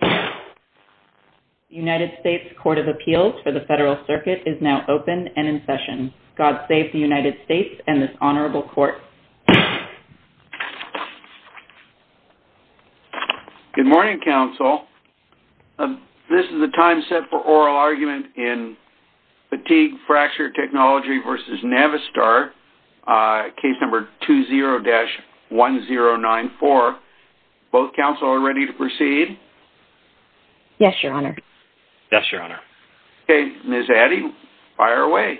The United States Court of Appeals for the Federal Circuit is now open and in session. God Save the United States and this Honorable Court. Good morning, Counsel. This is the time set for oral argument in Fatigue Fracture Technology v. Navistar, case number 20-1094. Both Counsel are ready to proceed? Yes, Your Honor. Yes, Your Honor. Okay, Ms. Addy, fire away.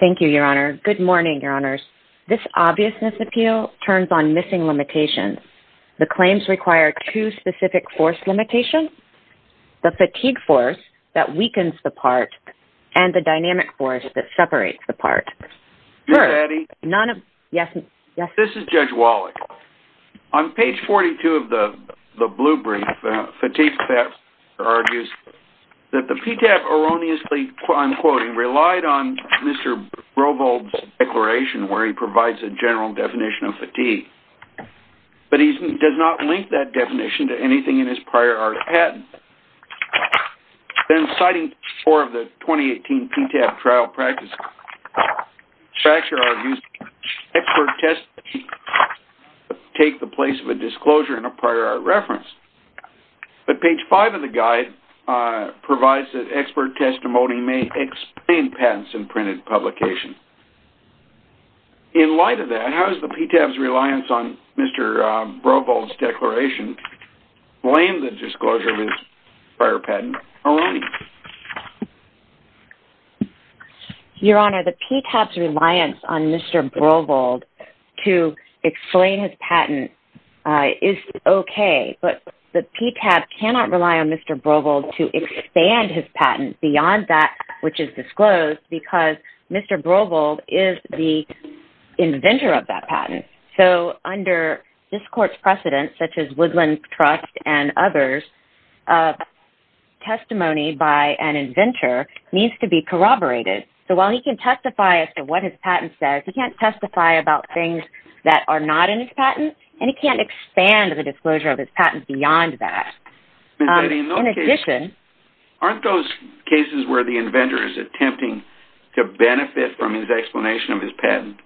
Thank you, Your Honor. Good morning, Your Honors. This obviousness appeal turns on missing limitations. The claims require two specific force limitations. The fatigue force that weakens the part and the dynamic force that separates the part. Ms. Addy? None of... Yes. This is Judge Wallach. On page 42 of the blue brief, Fatigue Fracture argues that the PTAP erroneously, I'm quoting, relied on Mr. Brovold's declaration where he provides a general definition of fatigue, but he does not link that definition to anything in his prior art of patent. Then citing four of the 2018 PTAP trial practices, Fatigue Fracture argues expert testimony takes the place of a disclosure in a prior art reference. But page five of the guide provides that expert testimony may explain patents in printed publication. In light of that, how does the PTAP's reliance on Mr. Brovold's declaration blame the disclosure of his prior patent erroneously? Your Honor, the PTAP's reliance on Mr. Brovold to explain his patent is okay, but the PTAP cannot rely on Mr. Brovold to expand his patent beyond that which is disclosed because Mr. Brovold is the inventor of that patent. So under this court's precedent, such as Woodland Trust and others, testimony by an inventor needs to be corroborated. So while he can testify as to what his patent says, he can't testify about things that are not in his patent, and he can't expand the disclosure of his patent beyond that. In addition... Aren't those cases where the inventor is attempting to benefit from his explanation of his patent?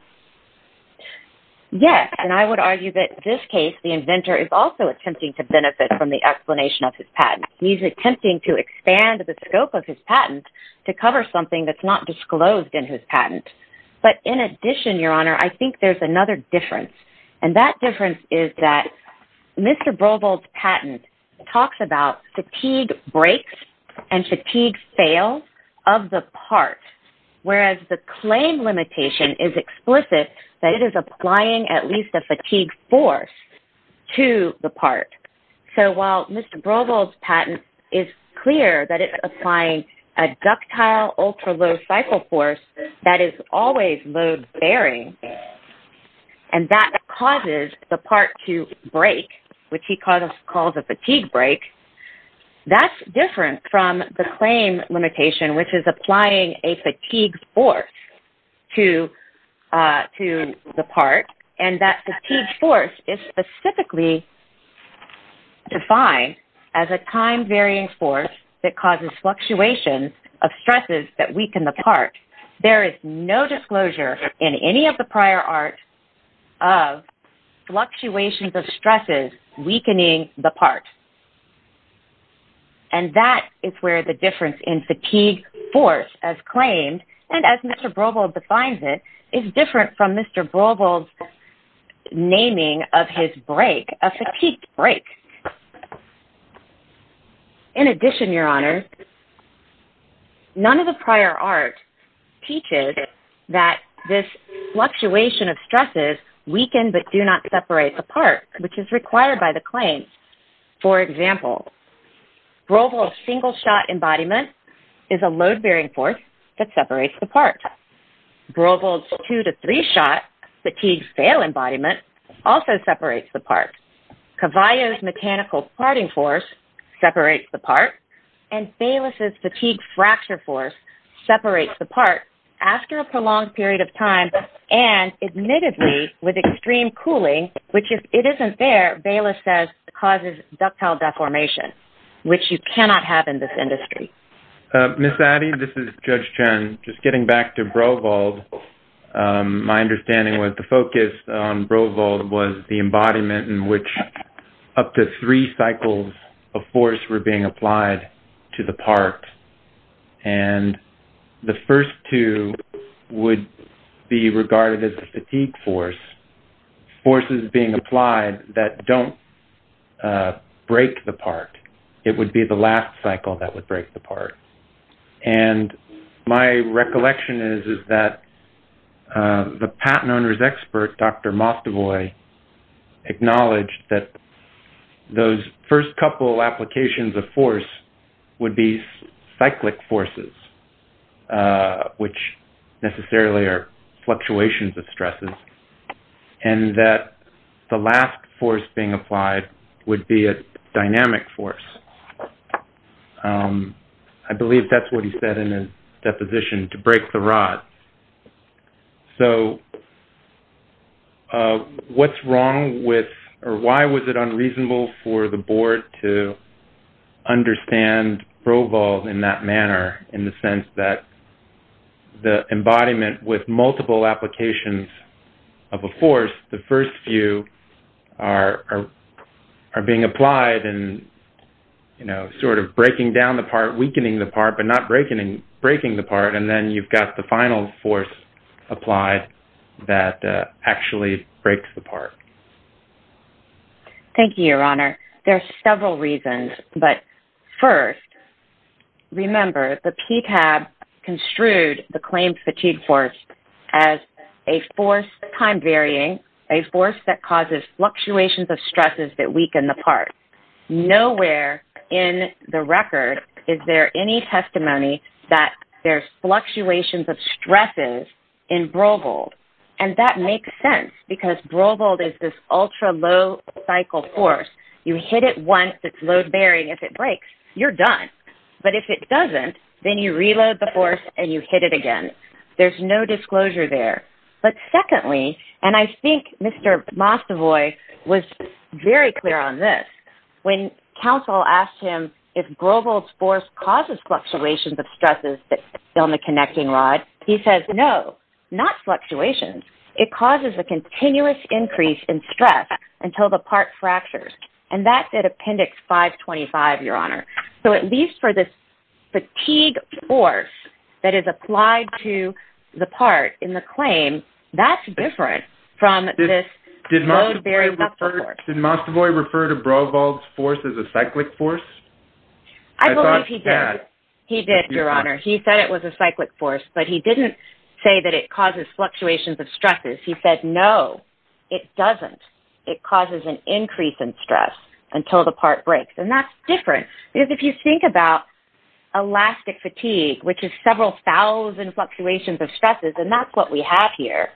Yes, and I would argue that in this case, the inventor is also attempting to benefit from the explanation of his patent. He's attempting to expand the scope of his patent to cover something that's not disclosed in his patent. But in addition, Your Honor, I think there's another difference, and that difference is that Mr. Brovold's patent talks about fatigue breaks and fatigue fails of the part, whereas the claim limitation is explicit that it is applying at least a fatigue force to the part. So while Mr. Brovold's patent is clear that it's applying a ductile ultra-low cycle force that is always load-bearing, and that causes the part to break, which he calls a fatigue break, that's different from the claim limitation, which is applying a fatigue force to the part, and that fatigue force is specifically defined as a time-varying force that causes fluctuations of stresses that weaken the part. There is no disclosure in any of the prior art of fluctuations of stresses weakening the part. And that is where the difference in fatigue force as claimed, and as Mr. Brovold defines it, is different from Mr. Brovold's naming of his break, a fatigue break. In addition, Your Honor, none of the prior art teaches that this fluctuation of stresses weaken but do not separate the part, which is required by the claim. For example, Brovold's single-shot embodiment is a load-bearing force that separates the part. Brovold's two-to-three-shot fatigue fail embodiment also separates the part. Cavallo's mechanical parting force separates the part, and Bayless's fatigue fracture force separates the part after a prolonged period of time, and admittedly with extreme cooling, which if it isn't there, Bayless says causes ductile deformation, which you cannot have in this industry. Ms. Addy, this is Judge Chen. Just getting back to Brovold, my understanding was the focus on Brovold was the embodiment in which up to three cycles of force were being applied to the part, and the first two would be regarded as a fatigue force, forces being applied that don't break the part. It would be the last cycle that would break the part. My recollection is that the patent owner's expert, Dr. Mastavoy, acknowledged that those first couple applications of force would be cyclic forces, which necessarily are fluctuations of stresses, and that the last force being applied would be a dynamic force. I believe that's what he said in his deposition, to break the rod. What's wrong with, or why was it unreasonable for the board to understand Brovold in that manner, in the sense that the embodiment with multiple applications of a force, the first few are being applied and sort of breaking down the part, weakening the part, but not breaking the part, and then you've got the final force applied that actually breaks the part. Thank you, Your Honor. There are several reasons, but first, remember, the PTAB construed the claimed fatigue force as a force, time varying, a force that causes fluctuations of stresses that weaken the part. Nowhere in the record is there any testimony that there's fluctuations of stresses in Brovold, and that makes sense, because Brovold is this ultra-low cycle force. You hit it once, it's load-bearing, if it breaks, you're done. But if it doesn't, then you reload the force and you hit it again. There's no disclosure there. But secondly, and I think Mr. Mastavoy was very clear on this, when counsel asked him if Brovold's force causes fluctuations of stresses on the connecting rod, he says, no, not fluctuations, it causes a continuous increase in stress until the part fractures, and that's at Appendix 525, Your Honor. So at least for this fatigue force that is applied to the part in the claim, that's different from this load-bearing ductile force. Did Mastavoy refer to Brovold's force as a cyclic force? I believe he did. He did, Your Honor. He said it was a cyclic force, but he didn't say that it causes fluctuations of stresses. He said, no, it doesn't. It causes an increase in stress until the part breaks, and that's different because if you think about elastic fatigue, which is several thousand fluctuations of stresses, and that's what we have here,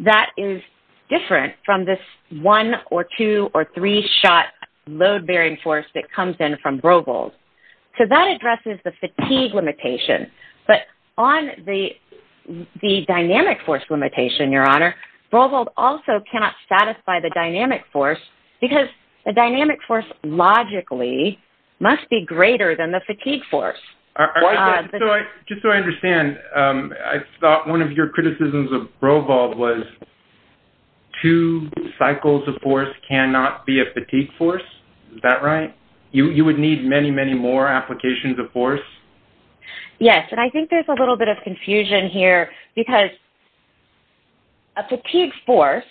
that is different from this one- or two- or three-shot load-bearing force that comes in from Brovold. So that addresses the fatigue limitation. But on the dynamic force limitation, Your Honor, Brovold also cannot satisfy the dynamic force because the dynamic force logically must be greater than the fatigue force. Just so I understand, I thought one of your criticisms of Brovold was two cycles of force cannot be a fatigue force. Is that right? You would need many, many more applications of force? Yes, and I think there's a little bit of confusion here because a fatigue force,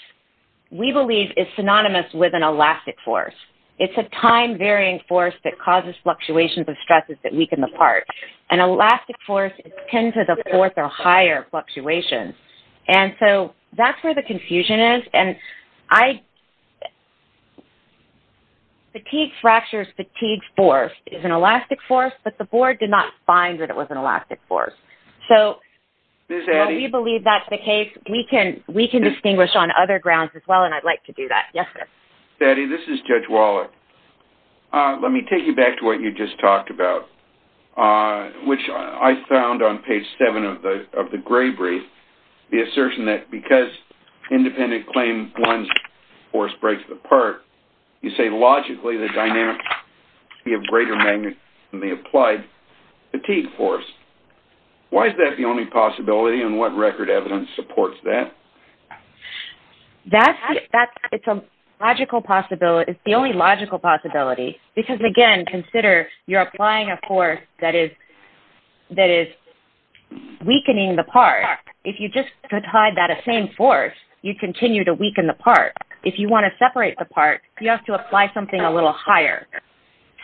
we believe, is synonymous with an elastic force. It's a time-varying force that causes fluctuations of stresses that weaken the part. An elastic force is ten to the fourth or higher fluctuations, and so that's where the confusion is. Fatigue fractures, fatigue force is an elastic force, but the board did not find that it was an elastic force. So we believe that's the case. We can distinguish on other grounds as well, and I'd like to do that. Yes, sir. Addie, this is Judge Wallach. Let me take you back to what you just talked about, which I found on page 7 of the Gray Brief, the assertion that because independent-claimed blunt force breaks the part, you say logically the dynamic of greater magnitude than the applied fatigue force. Why is that the only possibility, and what record evidence supports that? It's the only logical possibility because, again, consider you're applying a force that is weakening the part. If you just applied that same force, you'd continue to weaken the part. If you want to separate the part, you have to apply something a little higher.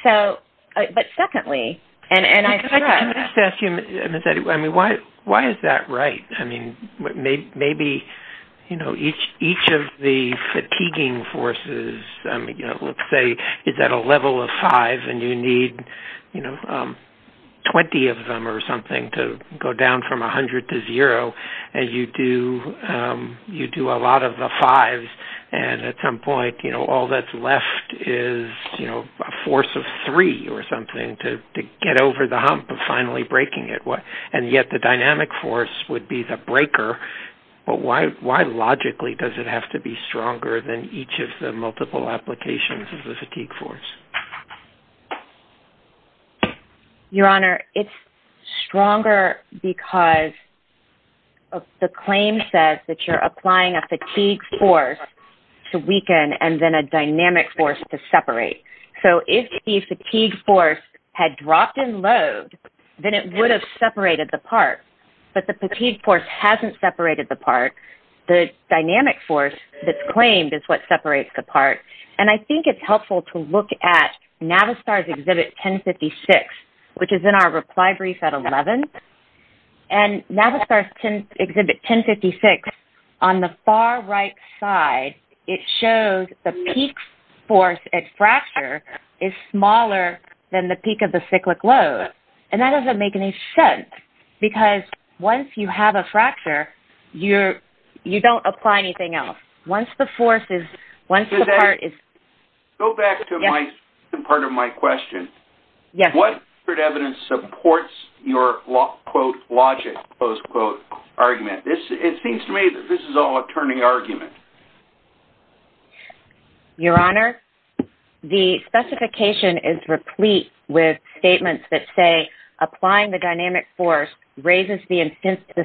But secondly- Can I just ask you, Ms. Addie, why is that right? Maybe each of the fatiguing forces, let's say, is at a level of five, and you need 20 of them or something to go down from 100 to zero, and you do a lot of the fives, and at some point all that's left is a force of three or something to get over the hump of finally breaking it. And yet the dynamic force would be the breaker. But why logically does it have to be stronger than each of the multiple applications of the fatigue force? Your Honor, it's stronger because the claim says that you're applying a fatigue force to weaken and then a dynamic force to separate. So if the fatigue force had dropped in load, then it would have separated the part. But the fatigue force hasn't separated the part. The dynamic force that's claimed is what separates the part. And I think it's helpful to look at Navistar's Exhibit 1056, which is in our reply brief at 11. And Navistar's Exhibit 1056, on the far right side, it shows the peak force at fracture is smaller than the peak of the cyclic load. And that doesn't make any sense because once you have a fracture, you don't apply anything else. Go back to the part of my question. What evidence supports your, quote, logic, close quote, argument? It seems to me that this is all a turning argument. Your Honor, the specification is replete with statements that say applying the dynamic force raises the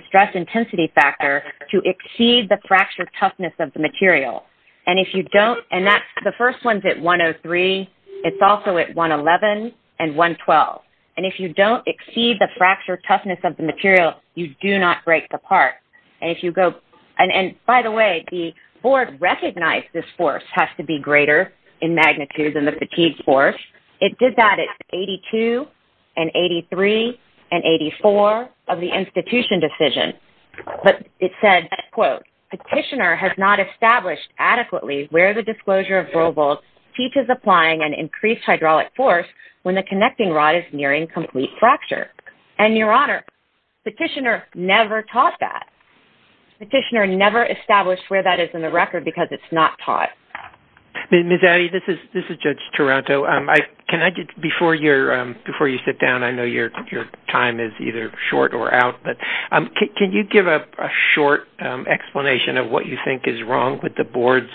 stress intensity factor to exceed the fracture toughness of the material. And if you don't, and that's, the first one's at 103. It's also at 111 and 112. And if you don't exceed the fracture toughness of the material, you do not break the part. And if you go, and by the way, the board recognized this force has to be greater in magnitude than the fatigue force. It did that at 82 and 83 and 84 of the institution decision. But it said, quote, petitioner has not established adequately where the disclosure of Robolt teaches applying an increased hydraulic force when the connecting rod is nearing complete fracture. And, Your Honor, petitioner never taught that. Petitioner never established where that is in the record because it's not taught. Ms. Addy, this is Judge Taranto. Can I just, before you sit down, I know your time is either short or out, but can you give a short explanation of what you think is wrong with the board's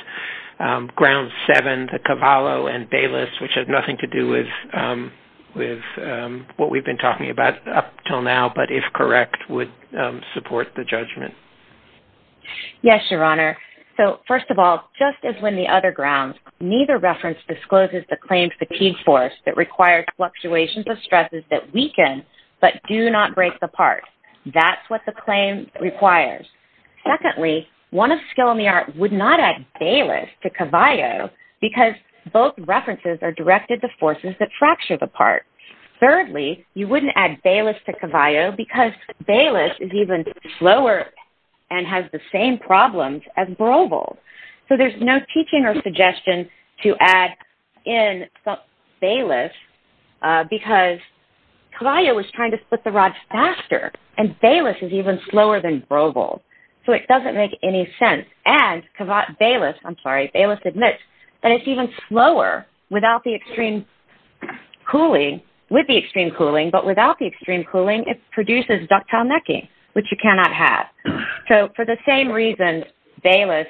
ground seven, the Cavallo and Bayless, which has nothing to do with what we've been talking about up until now, but if correct would support the judgment? Yes, Your Honor. So, first of all, just as when the other grounds, neither reference discloses the claim fatigue force that requires fluctuations of stresses that weaken but do not break the part. That's what the claim requires. Secondly, one of skill in the art would not add Bayless to Cavallo because both references are directed to forces that fracture the part. Thirdly, you wouldn't add Bayless to Cavallo because Bayless is even slower and has the same problems as Brovold. So, there's no teaching or suggestion to add in Bayless because Cavallo was trying to split the rod faster and Bayless is even slower than Brovold. So, it doesn't make any sense. And Bayless admits that it's even slower with the extreme cooling, but without the extreme cooling it produces ductile necking, which you cannot have. So, for the same reason, Bayless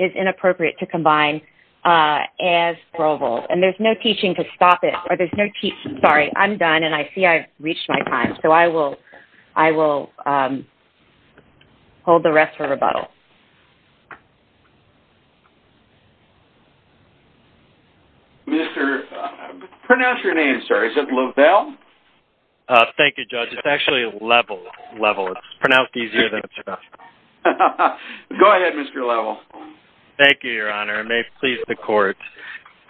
is inappropriate to combine as Brovold. And there's no teaching to stop it. Sorry, I'm done and I see I've reached my time. So, I will hold the rest for rebuttal. Pronounce your name, sir. Is it Lovell? Thank you, Judge. It's actually Lovell. It's pronounced easier than it's spelled. Go ahead, Mr. Lovell. Thank you, Your Honor. It may please the court.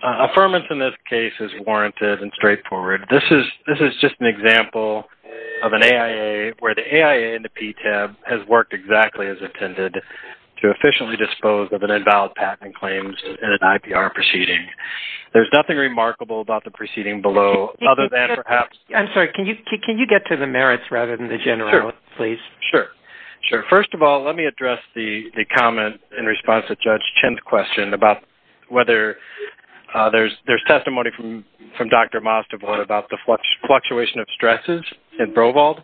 Affirmance in this case is warranted and straightforward. This is just an example of an AIA where the AIA and the PTAB has worked exactly as intended to efficiently dispose of an invalid patent and claims in an IPR proceeding. There's nothing remarkable about the proceeding below, other than perhaps... I'm sorry. Can you get to the merits rather than the general, please? Sure. Sure. First of all, let me address the comment in response to Judge Chen's question about whether there's testimony from Dr. Mostova about the fluctuation of stresses in Brovold.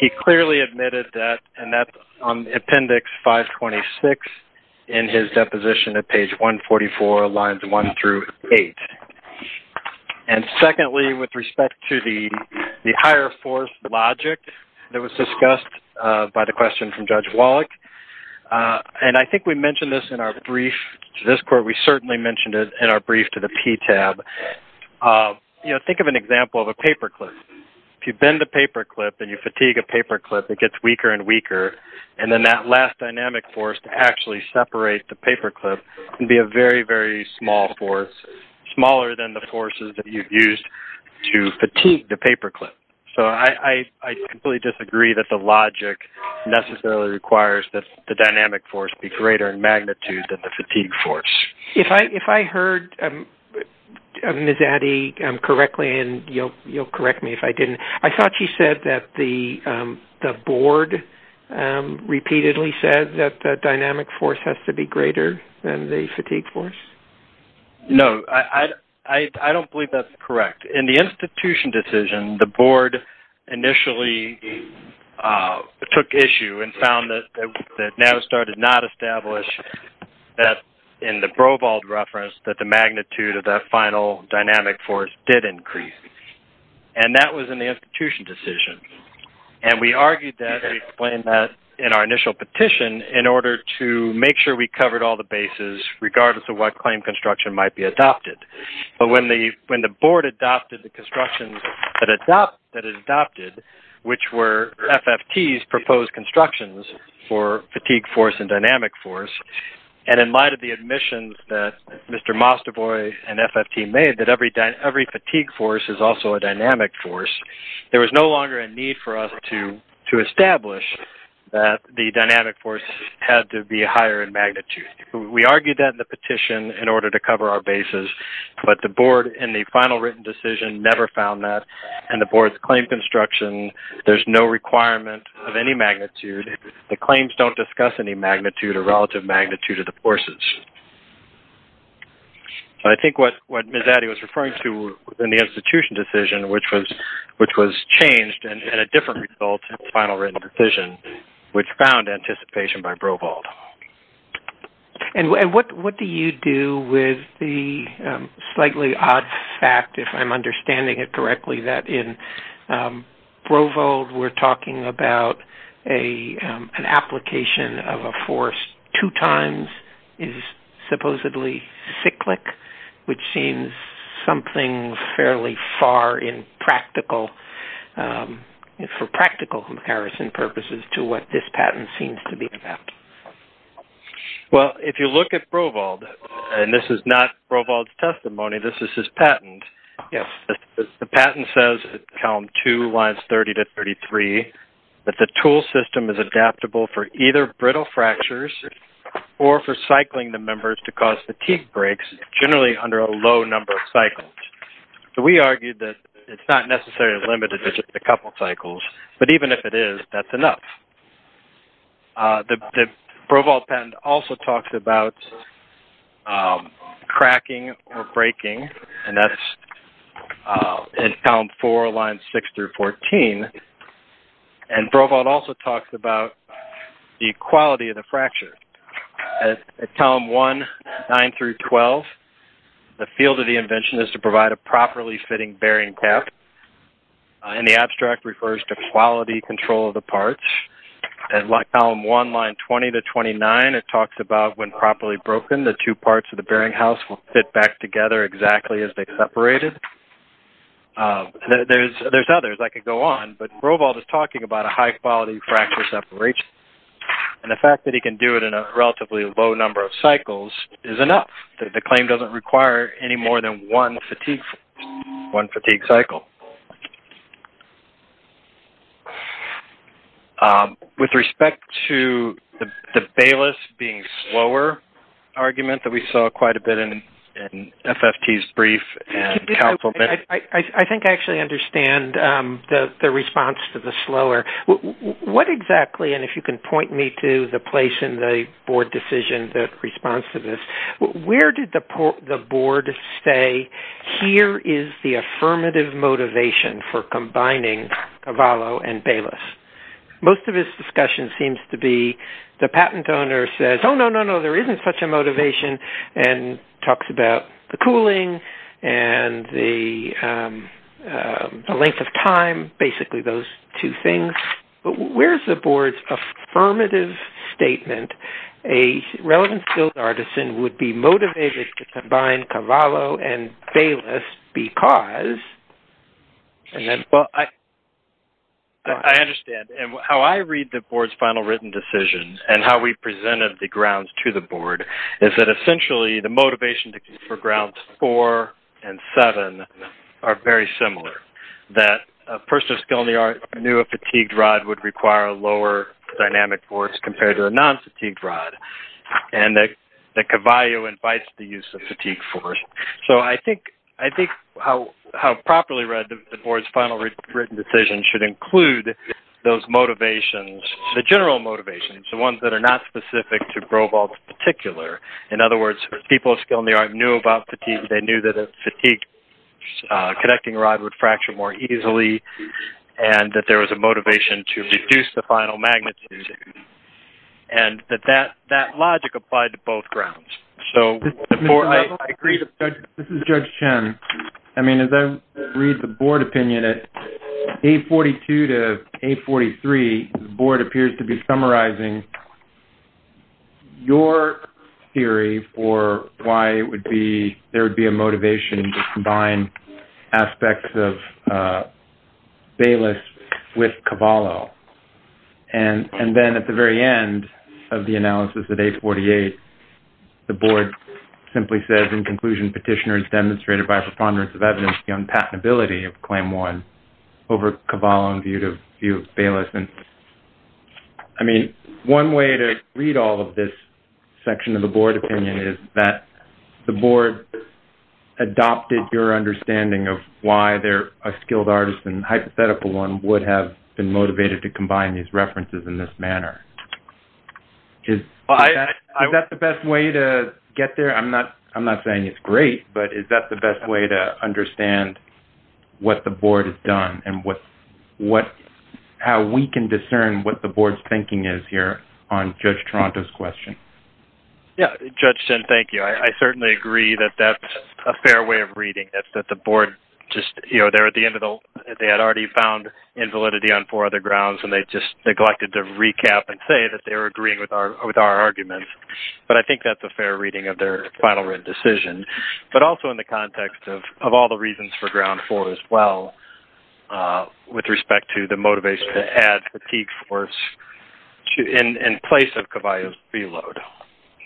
He clearly admitted that, and that's on Appendix 526 in his deposition at page 144, lines 1 through 8. And secondly, with respect to the higher force logic that was discussed by the question from Judge Wallach, and I think we mentioned this in our brief to this court. We certainly mentioned it in our brief to the PTAB. Think of an example of a paperclip. If you bend the paperclip and you fatigue a paperclip, it gets weaker and weaker, and then that last dynamic force to actually separate the paperclip can be a very, very small force, smaller than the forces that you've used to fatigue the paperclip. So I completely disagree that the logic necessarily requires that the dynamic force be greater in magnitude than the fatigue force. If I heard Ms. Addy correctly, and you'll correct me if I didn't, I thought she said that the board repeatedly said that the dynamic force has to be greater than the fatigue force? No. I don't believe that's correct. In the institution decision, the board initially took issue and found that Navistar did not establish that in the Brovald reference that the magnitude of that final dynamic force did increase. And that was in the institution decision. And we argued that and explained that in our initial petition in order to make sure we covered all the bases, regardless of what claim construction might be adopted. But when the board adopted the construction that it adopted, which were FFT's proposed constructions for fatigue force and dynamic force, and in light of the admissions that Mr. Mastavoy and FFT made that every fatigue force is also a dynamic force, there was no longer a need for us to establish that the dynamic force had to be higher in magnitude. We argued that in the petition in order to cover our bases, but the board in the final written decision never found that. And the board's claim construction, there's no requirement of any magnitude. The claims don't discuss any magnitude or relative magnitude of the forces. I think what Ms. Addy was referring to in the institution decision, which was changed and had a different result in the final written decision, which found anticipation by Brovald. And what do you do with the slightly odd fact, if I'm understanding it correctly, that in Brovald we're talking about an application of a force two times is supposedly cyclic, which seems something fairly far for practical comparison purposes to what this patent seems to be about. Well, if you look at Brovald, and this is not Brovald's testimony, this is his patent. Yes. The patent says, column two, lines 30 to 33, that the tool system is adaptable for either brittle fractures or for cycling the members to cause fatigue breaks, generally under a low number of cycles. So we argue that it's not necessarily limited to just a couple cycles, but even if it is, that's enough. The Brovald patent also talks about cracking or breaking, and that's in column four, lines six through 14. And Brovald also talks about the quality of the fracture. At column one, nine through 12, the field of the invention is to provide a properly fitting bearing cap, and the abstract refers to quality control of the parts. At column one, line 20 to 29, it talks about when properly broken, the two parts of the bearing house will fit back together exactly as they separated. There's others. I could go on, but Brovald is talking about a high-quality fracture separation, and the fact that he can do it in a relatively low number of cycles is enough. The claim doesn't require any more than one fatigue cycle. With respect to the Bayless being slower argument that we saw quite a bit in FFT's brief and council- I think I actually understand the response to the slower. What exactly-and if you can point me to the place in the board decision that responds to this- where did the board say, here is the affirmative motivation for combining Cavallo and Bayless? Most of his discussion seems to be the patent owner says, oh, no, no, no, there isn't such a motivation, and talks about the cooling and the length of time, basically those two things. But where's the board's affirmative statement? A relevant skilled artisan would be motivated to combine Cavallo and Bayless because- I understand. How I read the board's final written decision and how we presented the grounds to the board is that essentially the motivation for grounds four and seven are very similar. That a person of skill in the art knew a fatigued rod would require lower dynamic force compared to a non-fatigued rod, and that Cavallo invites the use of fatigue force. So I think how properly read the board's final written decision should include those motivations, the general motivations, the ones that are not specific to Grobalt's particular. In other words, people of skill in the art knew about fatigue. They knew that a fatigued connecting rod would fracture more easily and that there was a motivation to reduce the final magnitude. And that that logic applied to both grounds. This is Judge Chen. I mean, as I read the board opinion at 842 to 843, the board appears to be summarizing your theory for why there would be a motivation to combine aspects of Baylis with Cavallo. And then at the very end of the analysis at 848, the board simply says, in conclusion, petitioner is demonstrated by a preponderance of evidence beyond patentability of claim one over Cavallo in view of Baylis. And I mean, one way to read all of this section of the board opinion is that the board adopted your understanding of why a skilled artist and hypothetical one would have been motivated to combine these references in this manner. Is that the best way to get there? I'm not saying it's great, but is that the best way to understand what the board has done and how we can discern what the board's thinking is here on Judge Toronto's question? Yeah, Judge Chen, thank you. I certainly agree that that's a fair way of reading this, that the board just, you know, they're at the end of the – they had already found invalidity on four other grounds and they just neglected to recap and say that they were agreeing with our arguments. But I think that's a fair reading of their final written decision. But also in the context of all the reasons for ground four as well with respect to the motivation to add fatigue force in place of Cavallo's preload.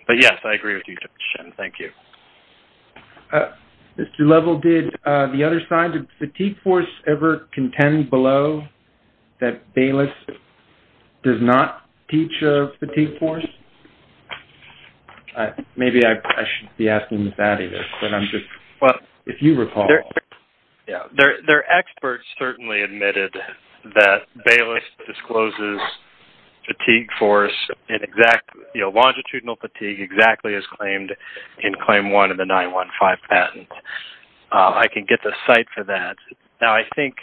But, yes, I agree with you, Judge Chen. Thank you. Mr. Lovell, did the other side of fatigue force ever contend below that Baylis does not teach fatigue force? Maybe I shouldn't be asking that either, but I'm just – if you recall. Their experts certainly admitted that Baylis discloses fatigue force in exact – longitudinal fatigue exactly as claimed in claim one of the 915 patent. I can get the site for that. Now, I think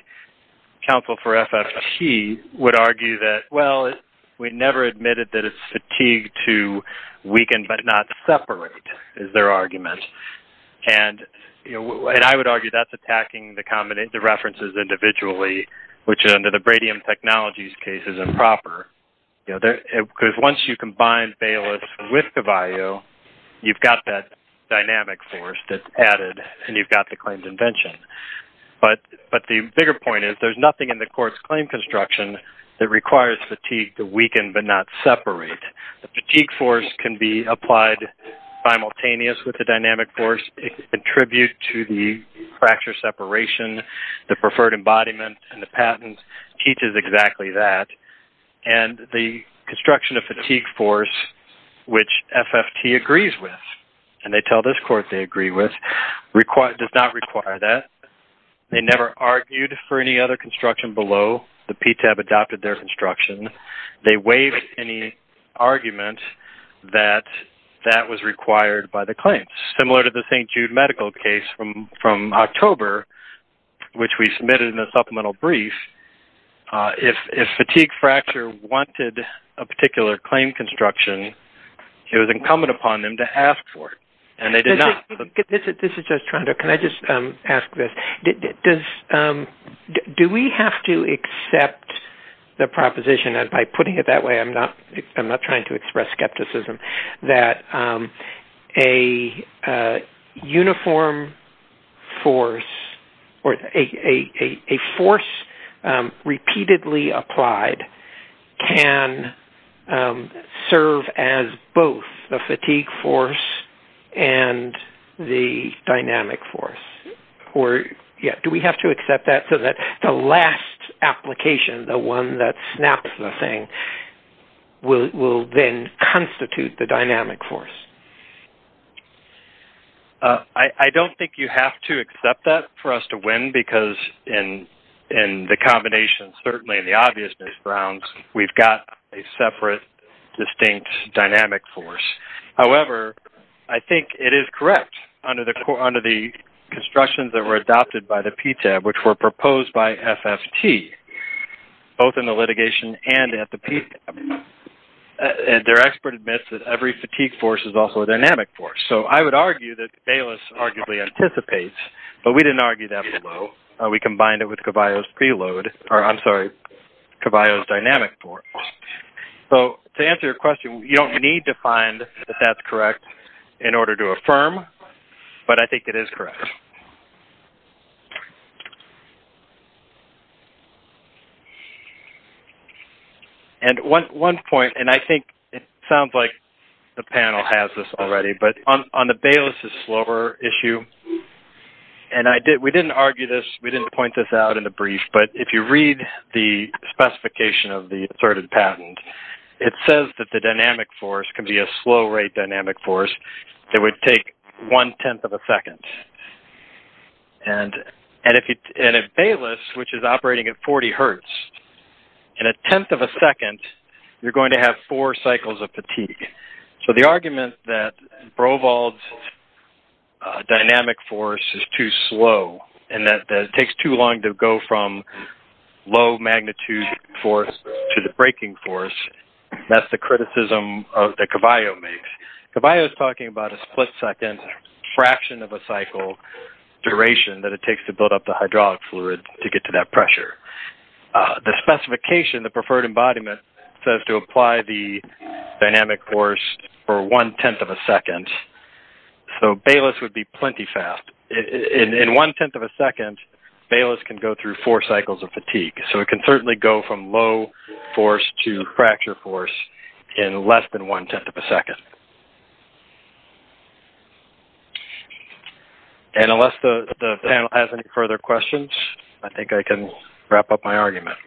counsel for FFT would argue that, well, we never admitted that it's fatigue to weaken but not separate is their argument. And I would argue that's attacking the references individually, which under the Bradyham Technologies case is improper. Because once you combine Baylis with Cavallo, you've got that dynamic force that's added and you've got the claimed invention. But the bigger point is there's nothing in the court's claim construction that requires fatigue to weaken but not separate. The fatigue force can be applied simultaneous with the dynamic force and contribute to the fracture separation, the preferred embodiment, and the patent teaches exactly that. And the construction of fatigue force, which FFT agrees with, and they tell this court they agree with, does not require that. They never argued for any other construction below. The PTAB adopted their construction. They waived any argument that that was required by the claims. Similar to the St. Jude medical case from October, which we submitted in a supplemental brief, if fatigue fracture wanted a particular claim construction, it was incumbent upon them to ask for it. This is just trying to ask this. Do we have to accept the proposition, and by putting it that way I'm not trying to express skepticism, that a force repeatedly applied can serve as both the fatigue force and the dynamic force? Do we have to accept that so that the last application, the one that snaps the thing, will then constitute the dynamic force? I don't think you have to accept that for us to win because in the combination, certainly in the obvious grounds, we've got a separate distinct dynamic force. However, I think it is correct under the constructions that were adopted by the PTAB, which were proposed by FFT, both in the litigation and at the PTAB. Their expert admits that every fatigue force is also a dynamic force. So I would argue that Bayless arguably anticipates, but we didn't argue that below. We combined it with Caballo's dynamic force. To answer your question, you don't need to find that that's correct in order to affirm, but I think it is correct. One point, and I think it sounds like the panel has this already, but on the Bayless's slower issue, and we didn't argue this, we didn't point this out in the brief, but if you read the specification of the asserted patent, it says that the dynamic force can be a slow rate dynamic force that would take one-tenth of a second. And at Bayless, which is operating at 40 hertz, in a tenth of a second, you're going to have four cycles of fatigue. So the argument that Broval's dynamic force is too slow and that it takes too long to go from low magnitude force to the breaking force, that's the criticism that Caballo makes. Caballo is talking about a split-second fraction of a cycle duration that it takes to build up the hydraulic fluid to get to that pressure. The specification, the preferred embodiment, says to apply the dynamic force for one-tenth of a second. So Bayless would be plenty fast. In one-tenth of a second, Bayless can go through four cycles of fatigue. So it can certainly go from low force to fracture force in less than one-tenth of a second. And unless the panel has any further questions, I think I can wrap up my argument.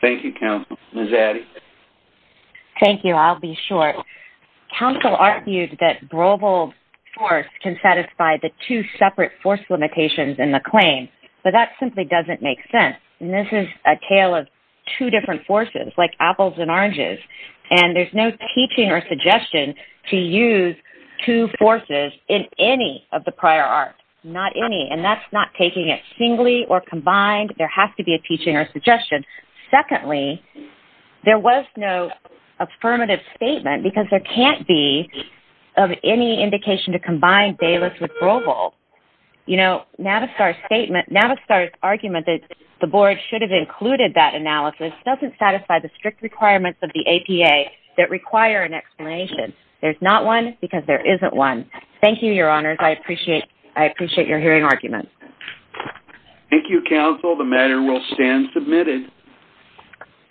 Thank you, counsel. Ms. Addy? Thank you. I'll be short. Counsel argued that Broval's force can satisfy the two separate force limitations in the claim, but that simply doesn't make sense. And this is a tale of two different forces, like apples and oranges, and there's no teaching or suggestion to use two forces in any of the prior art. Not any. And that's not taking it singly or combined. There has to be a teaching or suggestion. Secondly, there was no affirmative statement because there can't be of any indication to combine Bayless with Broval. You know, Navistar's argument that the board should have included that analysis doesn't satisfy the strict requirements of the APA that require an explanation. There's not one because there isn't one. Thank you, Your Honors. I appreciate your hearing arguments. Thank you, counsel. The matter will stand submitted.